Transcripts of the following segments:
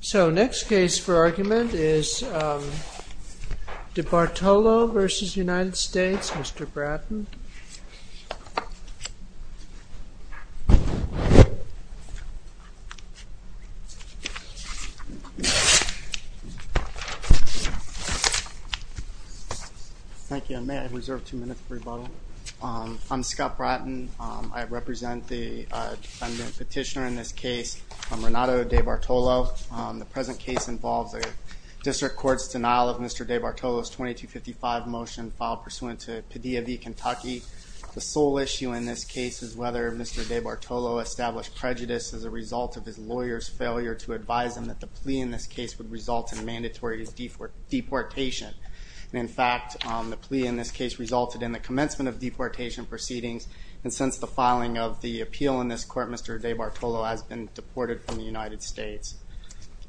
So next case for argument is Debartolo v. United States. Mr. Bratton. Thank you. May I reserve two minutes for rebuttal? I'm Scott Bratton. I represent the defendant petitioner in this case, Renato Debartolo. The present case involves a district court's denial of Mr. Debartolo's 2255 motion filed pursuant to Padilla v. Kentucky. The sole issue in this case is whether Mr. Debartolo established prejudice as a result of his lawyer's failure to advise him that the plea in this case would result in mandatory deportation. In fact, the plea in this case resulted in the commencement of deportation proceedings and since the filing of the appeal in this court, Mr. Debartolo has been deported from the United States.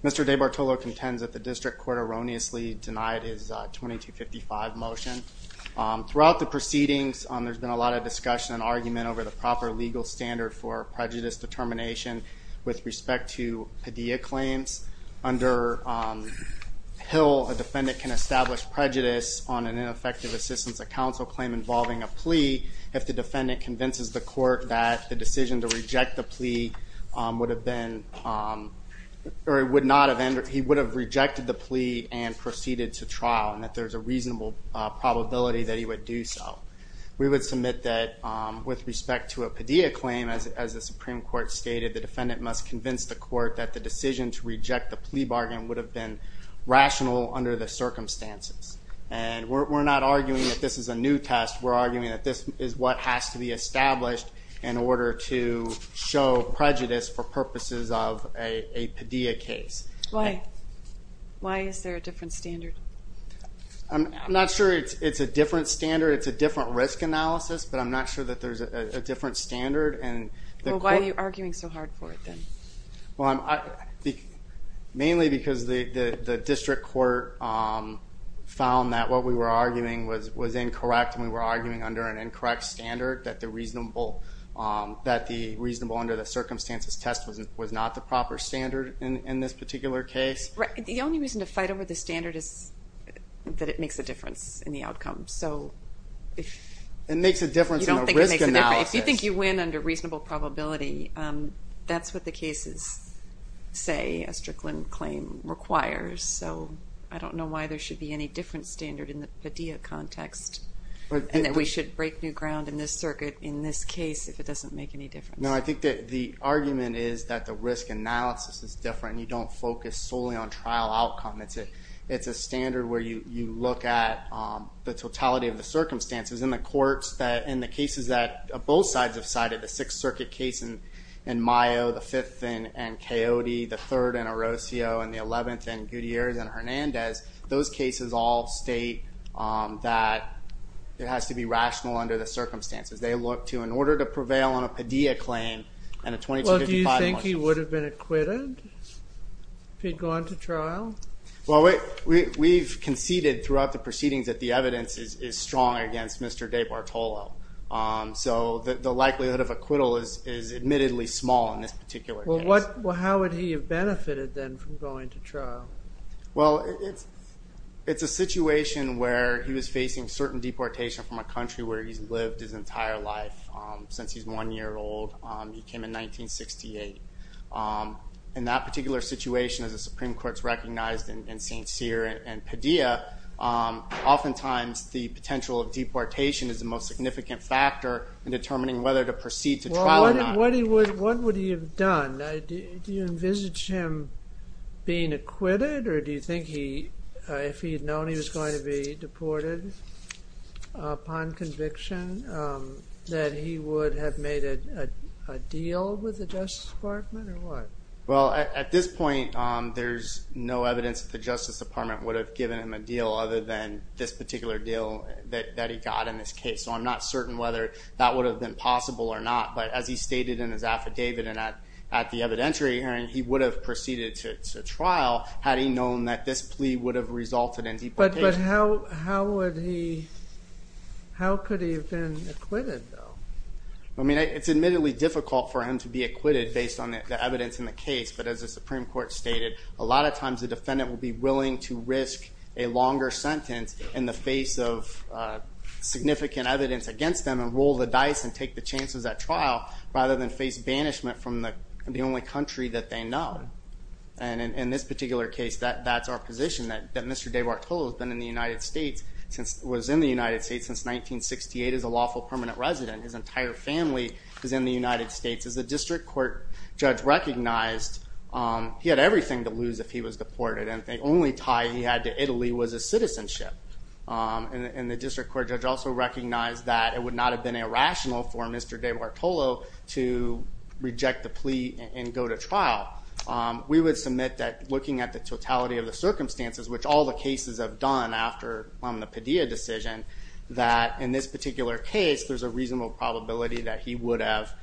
Mr. Debartolo contends that the district court erroneously denied his 2255 motion. Throughout the proceedings, there's been a lot of discussion and argument over the proper legal standard for prejudice determination with respect to Padilla claims. Under Hill, a defendant can establish prejudice on an ineffective assistance of counsel claim involving a plea if the defendant convinces the court that the plea would have been, or it would not have ended, he would have rejected the plea and proceeded to trial and that there's a reasonable probability that he would do so. We would submit that with respect to a Padilla claim, as the Supreme Court stated, the defendant must convince the court that the decision to reject the plea bargain would have been rational under the circumstances. And we're not arguing that this is a new test. We're arguing that this is what has to be established in order to show prejudice for purposes of a Padilla case. Why? Why is there a different standard? I'm not sure it's a different standard. It's a different risk analysis, but I'm not sure that there's a different standard. Well, why are you arguing so hard for it then? Well, I think mainly because the district court found that what we were arguing was incorrect and we were arguing under an incorrect standard that the reasonable under the circumstances test was not the proper standard in this particular case. Right, the only reason to fight over the standard is that it makes a difference in the outcome. So if... It makes a difference in the risk analysis. You don't think it makes a difference. If you think you win under reasonable probability, that's what the cases say, a Strickland claim requires. So I don't know why there should be any different standard in the Padilla context. And that we should break new ground in this circuit, in this case, if it doesn't make any difference. No, I think that the argument is that the risk analysis is different. You don't focus solely on trial outcome. It's a standard where you look at the totality of the circumstances. In the courts, in the cases that both sides have cited, the Sixth Circuit case in Mayo, the Fifth in Coyote, the Third in Orocio, and the Eleventh in Gutierrez and Hernandez, those cases all state that it has to be rational under the circumstances. They look to, in order to prevail on a Padilla claim and a 2255... Well, do you think he would have been acquitted if he'd gone to trial? Well, we've conceded throughout the proceedings that the evidence is strong against Mr. De Bartolo. So the likelihood of acquittal is admittedly small in this particular case. Well, how would he have benefited then from going to trial? Well, it's a situation where he was facing certain deportation from a country where he's lived his entire life since he's one year old. He came in 1968. In that particular situation, as the Supreme Court's recognized in St. Cyr and Padilla, oftentimes the potential of deportation is the most significant factor in determining whether to proceed to trial or not. What would he have done? Do you envisage him being acquitted, or do you think if he'd known he was going to be deported upon conviction that he would have made a deal with the Justice Department, or what? Well, at this point, there's no evidence that the Justice Department would have given him a deal other than this particular deal that he got in this case. So I'm not certain whether that would have been possible or not, but as he stated in his affidavit and at the evidentiary hearing, he would have proceeded to trial had he known that this plea would have resulted in deportation. But how could he have been acquitted, though? I mean, it's admittedly difficult for him to be acquitted based on the evidence in the case, but as the Supreme Court stated, a lot of times the defendant will be willing to risk a longer sentence in the face of the chances at trial, rather than face banishment from the only country that they know. And in this particular case, that's our position, that Mr. DeBartolo has been in the United States, was in the United States since 1968, as a lawful permanent resident. His entire family is in the United States. As the District Court judge recognized, he had everything to lose if he was deported, and the only tie he had to Italy was his citizenship. And the District Court judge also recognized that it would not have been irrational for Mr. DeBartolo to reject the plea and go to trial. We would submit that, looking at the totality of the circumstances, which all the cases have done after the Padilla decision, that in this particular case, there's a reasonable probability that he would have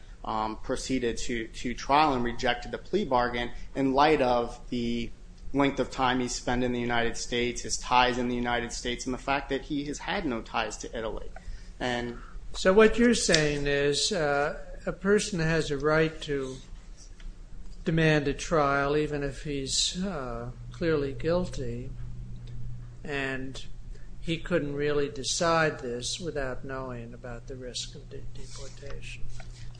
proceeded to trial and rejected the plea bargain, in light of the fact that he has had no ties to Italy. So what you're saying is, a person has a right to demand a trial, even if he's clearly guilty, and he couldn't really decide this without knowing about the risk of deportation.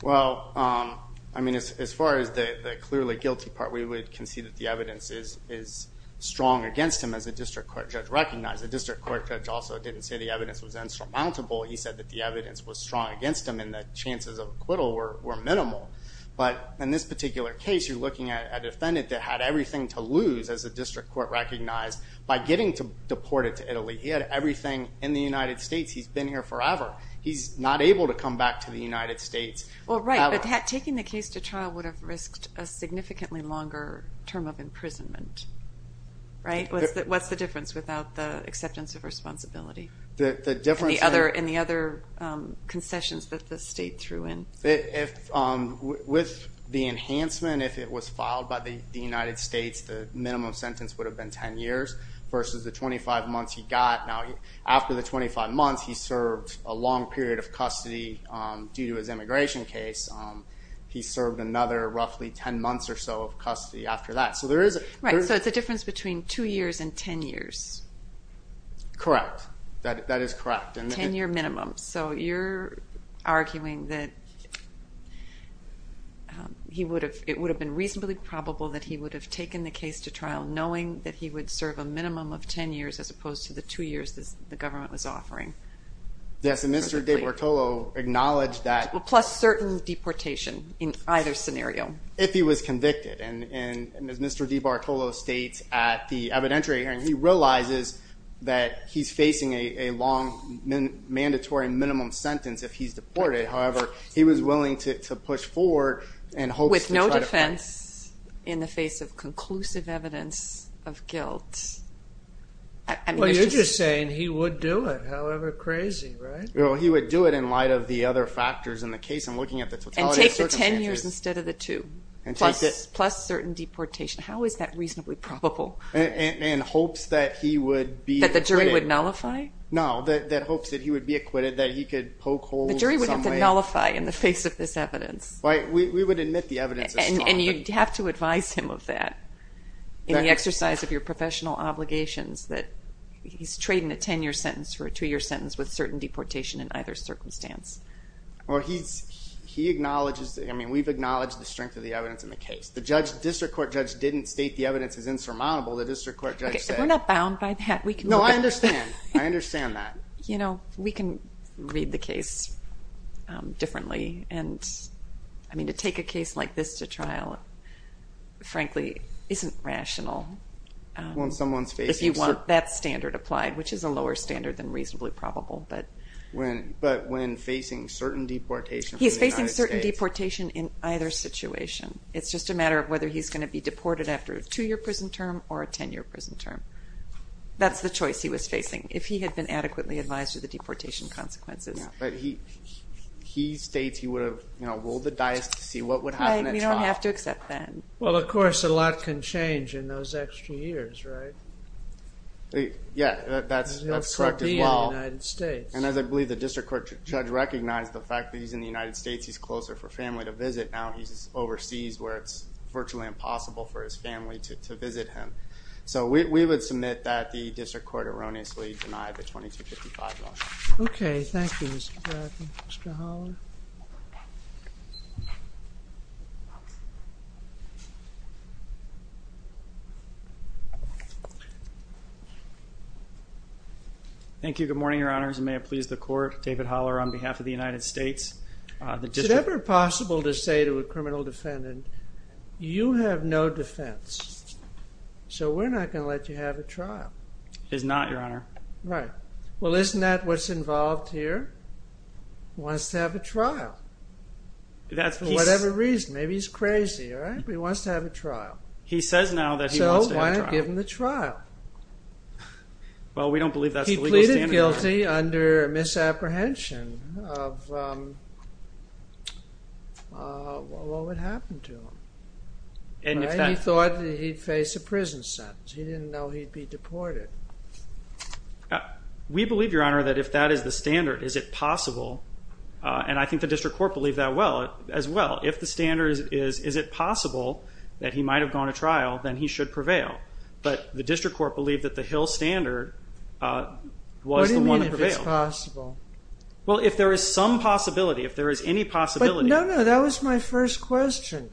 Well, I mean, as far as the clearly guilty part, we would concede that the evidence is strong against him, as the District Court judge recognized. The District Court judge also didn't say the evidence was insurmountable. He said that the evidence was strong against him, and the chances of acquittal were minimal. But in this particular case, you're looking at a defendant that had everything to lose, as the District Court recognized, by getting to deport it to Italy. He had everything in the United States. He's been here forever. He's not able to come back to the United States. Well, right, but taking the case to trial would have risked a significantly longer term of imprisonment. Right? What's the difference without the acceptance of responsibility, and the other concessions that the state threw in? With the enhancement, if it was filed by the United States, the minimum sentence would have been 10 years, versus the 25 months he got. Now, after the 25 months, he served a long period of custody due to his immigration case. He served another roughly 10 months or so of custody after that. Right, so it's a difference between two years and 10 years. Correct. That is correct. 10-year minimum. So you're arguing that it would have been reasonably probable that he would have taken the case to trial, knowing that he would serve a minimum of 10 years, as opposed to the two years the government was offering. Yes, and Mr. De Portolo acknowledged that... Plus certain deportation in either scenario. If he was convicted, and as Mr. De Bartolo states at the evidentiary hearing, he realizes that he's facing a long, mandatory minimum sentence if he's deported. However, he was willing to push forward and hopes... With no defense in the face of conclusive evidence of guilt. Well, you're just saying he would do it, however crazy, right? Well, he would do it in light of the other factors in the case. I'm looking at the totality of circumstances. And take the 10 years instead of the two, plus certain deportation. How is that reasonably probable? And hopes that he would be... That the jury would nullify? No, that hopes that he would be acquitted, that he could poke holes in some way. The jury would have to nullify in the face of this evidence. Right, we would admit the evidence is strong. And you'd have to advise him of that in the exercise of your professional obligations, that he's trading a 10-year sentence for a two-year sentence with certain deportation in either circumstance. Or he's... He acknowledges... I mean, we've acknowledged the strength of the evidence in the case. The district court judge didn't state the evidence is insurmountable. The district court judge said... Okay, we're not bound by that. No, I understand. I understand that. You know, we can read the case differently. And I mean, to take a case like this to trial, frankly, isn't rational. When someone's facing... If you want that standard applied, which is a lower standard than reasonably probable. But when facing certain deportation... He's facing certain deportation in either situation. It's just a matter of whether he's going to be deported after a two-year prison term or a 10-year prison term. That's the choice he was facing, if he had been adequately advised of the deportation consequences. But he states he would have, you know, rolled the dice to see what would happen at trial. I mean, you don't have to accept that. Well, of course, a lot can change in those extra years, right? Yeah, that's correct as well. And as I believe the district court judge recognized the fact that he's in the United States, he's closer for family to visit. Now he's overseas where it's virtually impossible for his family to visit him. So we would submit that the district court erroneously denied the 2255 motion. Okay, thank you, Mr. Haller. Thank you, good morning, Your Honors, and may it please the court, David Haller on behalf of the United States, the district... Is it ever possible to say to a criminal defendant, you have no defense. So we're not going to let you have a trial. It is not, Your Honor. Right. Well, isn't that what's involved here? He wants to have a trial. That's for whatever reason. Maybe he's crazy, right? But he wants to have a trial. He says now that he wants to have a trial. So why not give him the trial? Well, we don't believe that's the legal standard. He pleaded guilty under misapprehension of what would happen to him. And he thought that he'd face a prison sentence. He didn't know he'd be deported. We believe, Your Honor, that if that is the standard, is it possible? And I think the district court believed that as well. If the standard is, is it possible that he might have gone to trial, then he should prevail. But the district court believed that the Hill standard was the one that prevailed. What do you mean if it's possible? Well, if there is some possibility, if there is any possibility... No, no, that was my first question.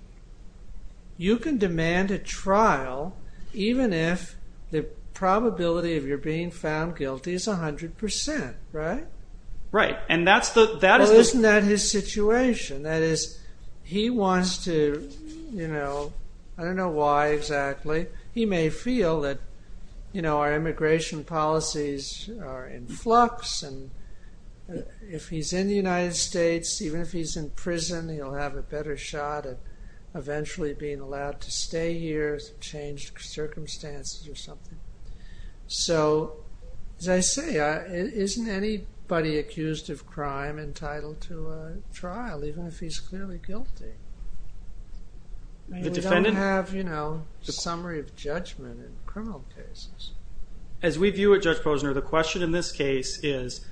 You can demand a trial even if the probability of your being found guilty is a hundred percent, right? Right. And that's the... Well, isn't that his situation? That is, he wants to, you know... I don't know why exactly. He may feel that, you know, our immigration policies are in flux and if he's in the United States, even if he's in prison, he'll have a better shot at eventually being allowed to stay here, change circumstances or something. So, as I say, isn't anybody accused of crime entitled to a trial, even if he's clearly guilty? The defendant... I mean, we don't have, you know, a summary of judgment in criminal cases. As we view it, Judge Posner, the question in this case is,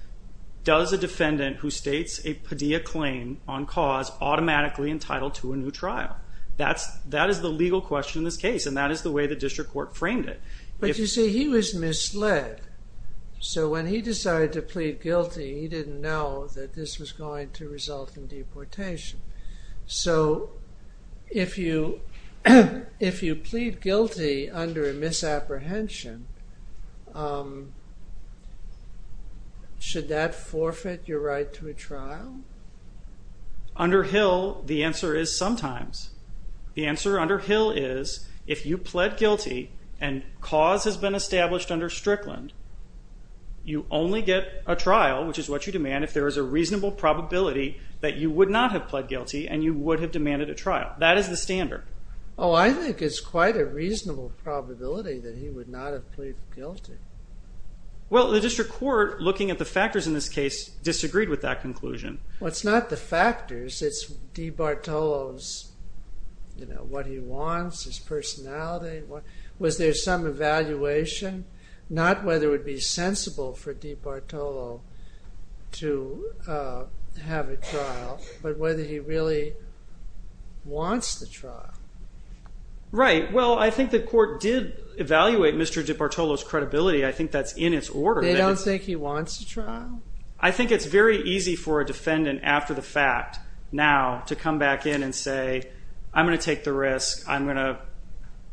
does a defendant who states a Padilla claim on cause automatically entitled to a new trial? That is the legal question in this case, and that is the way the district court framed it. But, you see, he was misled. So, when he decided to plead guilty, he didn't know that this was going to result in deportation. So, if you plead guilty under a misapprehension, should that forfeit your right to a trial? Under Hill, the answer is sometimes. The answer under Hill is, if you pled guilty and cause has been established under Strickland, you only get a trial, which is what you demand, if there is a reasonable probability that you would not have pled guilty and you would have demanded a trial. That is the standard. Oh, I think it's quite a reasonable probability that he would not have plead guilty. Well, the district court, looking at the factors in this case, disagreed with that conclusion. Well, it's not the factors, it's DiBartolo's, you know, what he wants, his personality. Was there some evaluation? Not whether it would be sensible for DiBartolo to have a trial, but whether he really wants the trial. Right. Well, I think the court did evaluate Mr. DiBartolo's credibility. I think that's in its order. They don't think he wants a trial? I think it's very easy for a defendant, after the fact, now to come back in and say, I'm going to take the risk, I'm going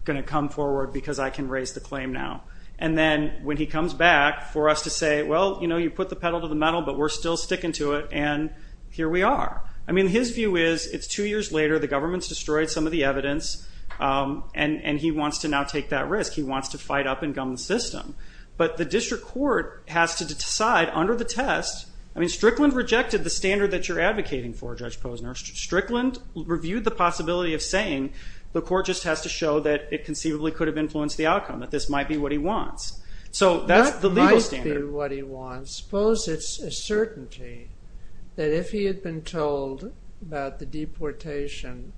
to come forward because I can raise the claim now. And then, when he comes back, for us to say, well, you know, you put the pedal to the metal, but we're still sticking to it, and here we are. I mean, his view is, it's two years later, the government's destroyed some of the evidence, and he wants to now take that risk. He wants to fight up and gum the system. But the district court has to decide, under the test, I mean, Strickland rejected the standard that you're advocating for, Judge Posner. Strickland reviewed the possibility of saying, the court just has to show that it conceivably could have influenced the outcome, that this might be what he wants. So, that's the legal standard. That might be what he wants. Suppose it's a certainty that if he had been told about the deportation,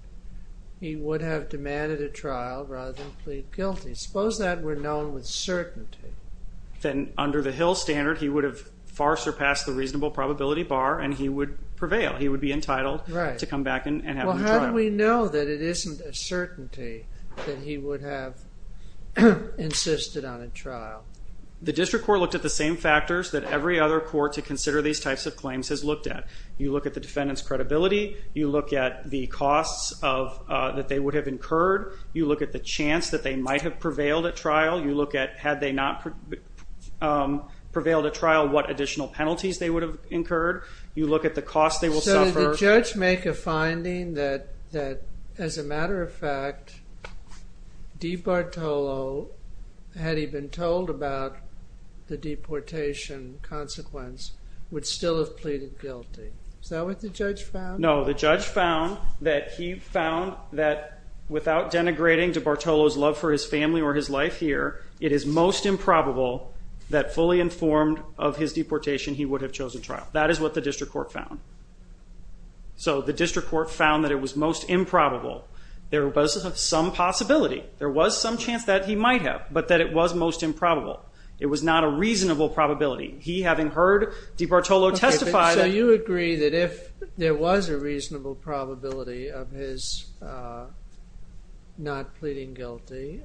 he would have demanded a trial rather than plead guilty. Suppose that were known with certainty. Then, under the Hill standard, he would have far surpassed the reasonable probability bar, and he would prevail. He would be entitled to come back and have a trial. Well, how do we know that it isn't a certainty that he would have insisted on a trial? The district court looked at the same factors that every other court to consider these types of claims has looked at. You look at the costs that they would have incurred. You look at the chance that they might have prevailed at trial. You look at, had they not prevailed at trial, what additional penalties they would have incurred. You look at the cost they will suffer. So, did the judge make a finding that, as a matter of fact, Di Bartolo, had he been told about the deportation consequence, would still have pleaded guilty. Is that what the judge found? No, the judge found that he found that, without denigrating Di Bartolo's love for his family or his life here, it is most improbable that, fully informed of his deportation, he would have chosen trial. That is what the district court found. So, the district court found that it was most improbable. There was some possibility. There was some chance that he might have, but that it was most improbable. It was not a reasonable probability. He, having heard Di Bartolo testify... If it was a reasonable probability of his not pleading guilty,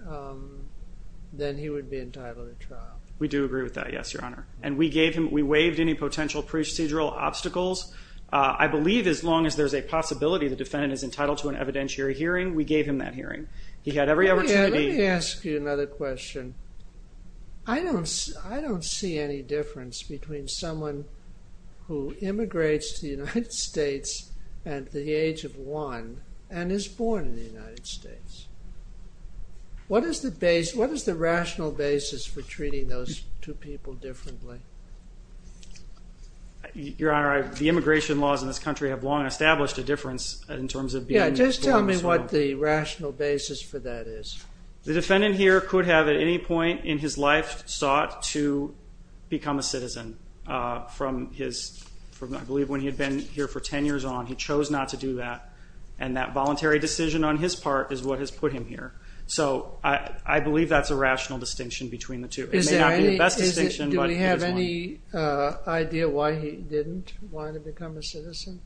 then he would be entitled to trial. We do agree with that, yes, Your Honor. And we gave him, we waived any potential procedural obstacles. I believe, as long as there's a possibility the defendant is entitled to an evidentiary hearing, we gave him that hearing. He had every opportunity... Let me ask you another question. I don't, I don't see any difference between someone who immigrates to the United States at the age of one and is born in the United States. What is the base, what is the rational basis for treating those two people differently? Your Honor, the immigration laws in this country have long established a difference in terms of being... Yeah, just tell me what the rational basis for that is. The defendant here could have, at any point in his life, sought to become a citizen. From his, I believe, when he had been here for ten years on, he chose not to do that, and that voluntary decision on his part is what has put him here. So, I believe that's a rational distinction between the two. It may not be the best distinction, but it is one. Do we have any idea why he didn't want to become a citizen?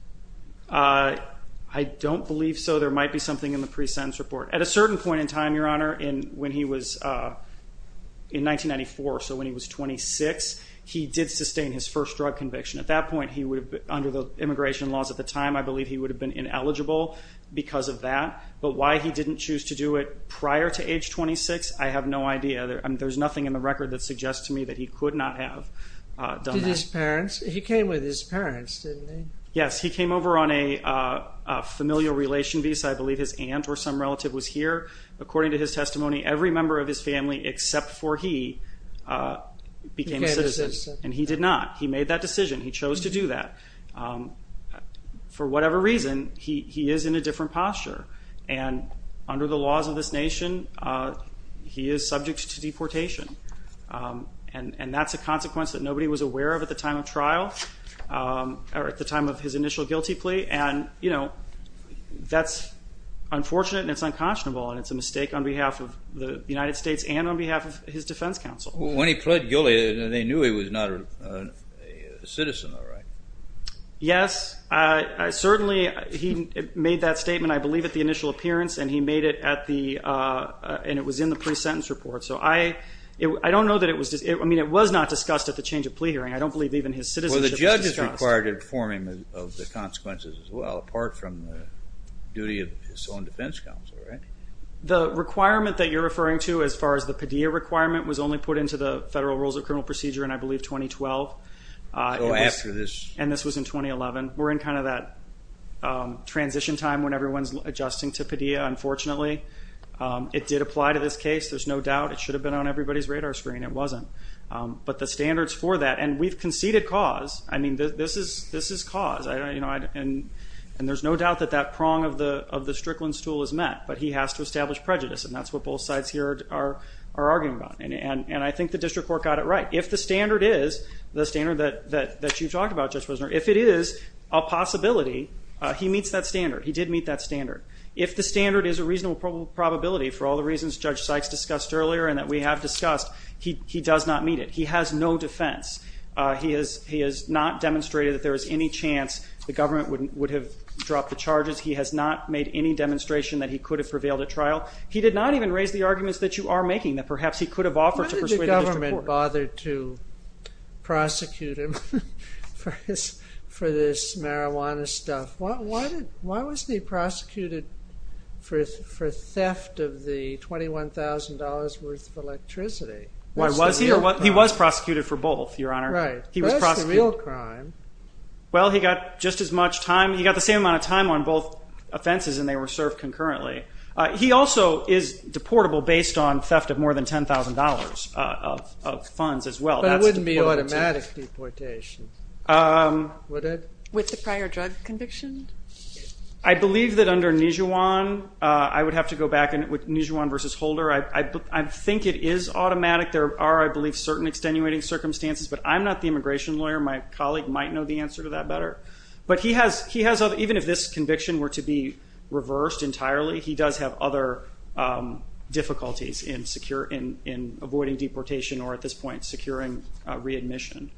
I don't believe so. There might be something in the pre-sentence report. At a certain point in time, Your Honor, when he was in 1994, so when he was 26, he did sustain his first drug conviction. At that point, he would have, under the immigration laws at the time, I believe he would have been ineligible because of that, but why he didn't choose to do it prior to age 26, I have no idea. There's nothing in the record that suggests to me that he could not have done that. Did his parents? He came with his parents, didn't he? Yes, he came over on a familial relation visa. I believe his aunt or some relative was here. According to his testimony, every member of his family, except for he, became a citizen, and he did not. He made that decision. He chose to do that. For whatever reason, he is in a different posture, and under the laws of this nation, he is subject to deportation, and that's a consequence that nobody was aware of at the time of trial, or at the time of his initial guilty plea, and you know, that's unfortunate, and it's unconscionable, and it's a mistake on behalf of the United States, and on behalf of his defense counsel. When he pled guilty, they knew he was not a citizen, though, right? Yes, I certainly, he made that statement, I believe, at the initial appearance, and he made it at the, and it was in the pre-sentence report, so I, I don't know that it was, I mean, it was not discussed at the change of plea hearing. I don't believe even his citizenship was discussed. It required informing of the consequences as well, apart from the duty of his own defense counsel, right? The requirement that you're referring to, as far as the Padilla requirement, was only put into the Federal Rules of Criminal Procedure in, I believe, 2012. Oh, after this. And this was in 2011. We're in kind of that transition time when everyone's adjusting to Padilla, unfortunately. It did apply to this case. There's no doubt. It should have been on everybody's radar screen. It wasn't. But the standards for that, and we've conceded cause. I mean, this is, this is cause. I don't, you know, and, and there's no doubt that that prong of the, of the Strickland's tool is met, but he has to establish prejudice, and that's what both sides here are, are arguing about. And, and, and I think the district court got it right. If the standard is, the standard that, that, that you talked about, Judge Wisner, if it is a possibility, he meets that standard. He did meet that standard. If the standard is a reasonable probability, for all the reasons Judge Sykes discussed earlier, and that we have discussed, he, he does not meet it. He has no defense. He has, he has not demonstrated that there is any chance the government wouldn't, would have dropped the charges. He has not made any demonstration that he could have prevailed at trial. He did not even raise the arguments that you are making, that perhaps he could have offered to persuade the district court. Why did the government bother to prosecute him for this, for this marijuana stuff? Why did, why was he prosecuted for, for theft of the $21,000 worth of electricity? Why was he, he was prosecuted for both, Your Honor. Right. He was prosecuted. That's the real crime. Well, he got just as much time, he got the same amount of time on both offenses, and they were served concurrently. He also is deportable based on theft of more than $10,000 of, of funds as well. But it wouldn't be automatic deportation, would it? With the prior drug conviction? I believe that under Nijuan, I would have to go back and, with Nijuan versus Holder, I, I, I think it is automatic. There are, I believe, certain extenuating circumstances, but I'm not the immigration lawyer. My colleague might know the answer to that better. But he has, he has, even if this conviction were to be reversed entirely, he does have other difficulties in secure, in, in avoiding deportation, or at this point, securing readmission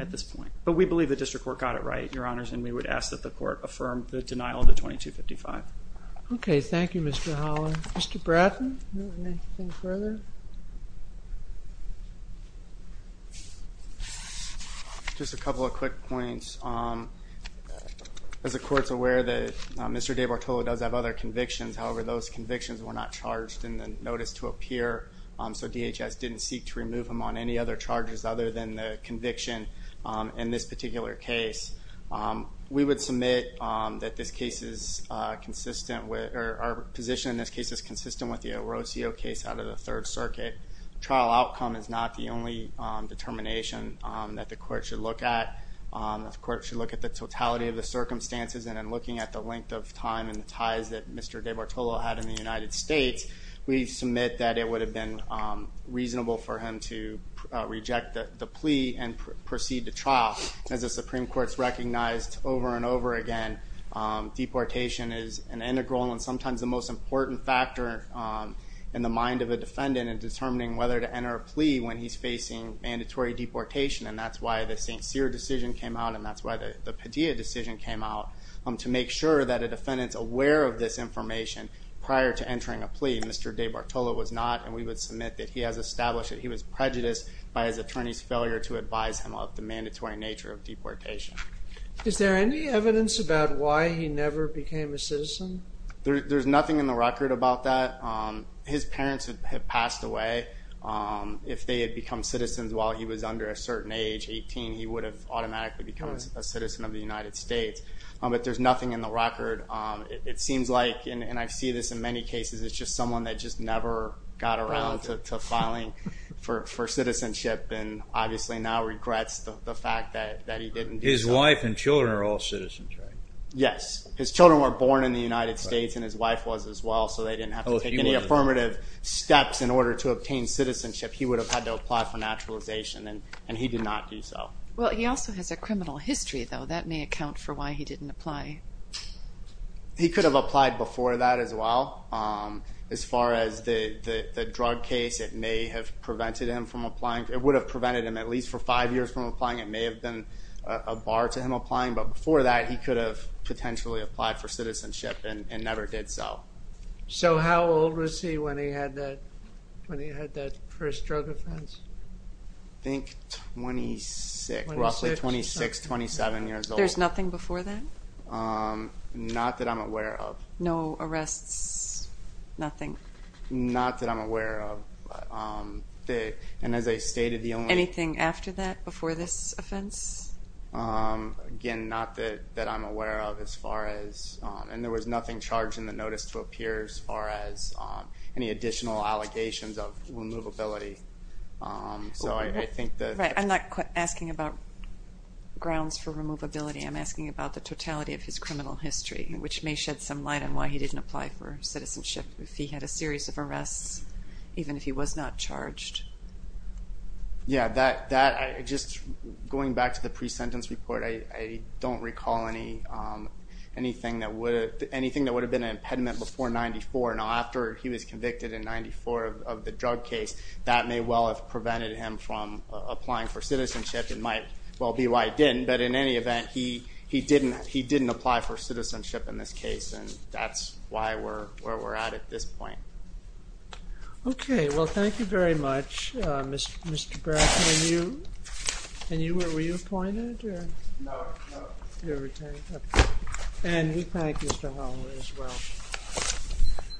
at this point. But we believe the district court got it right, Your Honors, and we would ask that the court affirm the denial of the 2255. Okay, thank you, Mr. Howland. Mr. Bratton, anything further? Just a couple of quick points. As the court's aware that Mr. DeBartolo does have other convictions, however, those convictions were not charged in the notice to appear. So DHS didn't seek to remove him on any other charges other than the conviction. In this particular case, we would submit that this case is consistent with, or our position in this case is consistent with the Orocio case out of the Third Circuit. Trial outcome is not the only determination that the court should look at. The court should look at the totality of the circumstances, and in looking at the length of time and the ties that Mr. DeBartolo had in the United States, we submit that it would have been reasonable for him to reject the plea and proceed to trial. As the Supreme Court's recognized over and over again, deportation is an integral and sometimes the most important factor in the mind of a defendant in determining whether to enter a plea when he's facing mandatory deportation. And that's why the St. Cyr decision came out, and that's why the Padilla decision came out, to make sure that a defendant's aware of this information prior to entering a plea. Mr. DeBartolo was not, and we would submit that he has established that he was prejudiced by his attorney's failure to advise him of the mandatory nature of deportation. Is there any evidence about why he never became a citizen? There's nothing in the record about that. His parents had passed away. If they had become citizens while he was under a certain age, 18, he would have automatically become a citizen of the United States. But there's nothing in the record. It seems like, and I see this in many cases, it's just someone that just never got around to filing for citizenship, and obviously now regrets the fact that he didn't do so. His wife and children are all citizens, right? Yes, his children were born in the United States, and his wife was as well, so they didn't have to take any affirmative steps in order to obtain citizenship. He would have had to apply for naturalization, and he did not do so. Well, he also has a criminal history, though. That may account for why he didn't apply. He could have applied before that as well. As far as the drug case, it may have prevented him from applying. It would have prevented him at least for five years from applying. It may have been a bar to him applying, but before that, he could have potentially applied for citizenship and never did so. So how old was he when he had that first drug offense? I think 26, roughly 26, 27 years old. There's nothing before that? Not that I'm aware of. No arrests, nothing? Not that I'm aware of. And as I stated, the only- Anything after that, before this offense? Again, not that I'm aware of as far as, and there was nothing charged in the notice to appear as far as any additional allegations of removability. So I think that- Right, I'm not asking about grounds for removability. I'm asking about the totality of his criminal history, which may shed some light on why he didn't apply for citizenship if he had a series of arrests, even if he was not charged. Yeah, that, just going back to the pre-sentence report, I don't recall anything that would have been an impediment before 94. Now, after he was convicted in 94 of the drug case, that may well have prevented him from applying for citizenship. It might well be why he didn't, but in any event, he didn't apply for citizenship in this case, and that's where we're at at this point. Okay, well, thank you very much, Mr. Bracken. And you, were you appointed or- No, no. You were retained, okay. And we thank Mr. Holloway as well.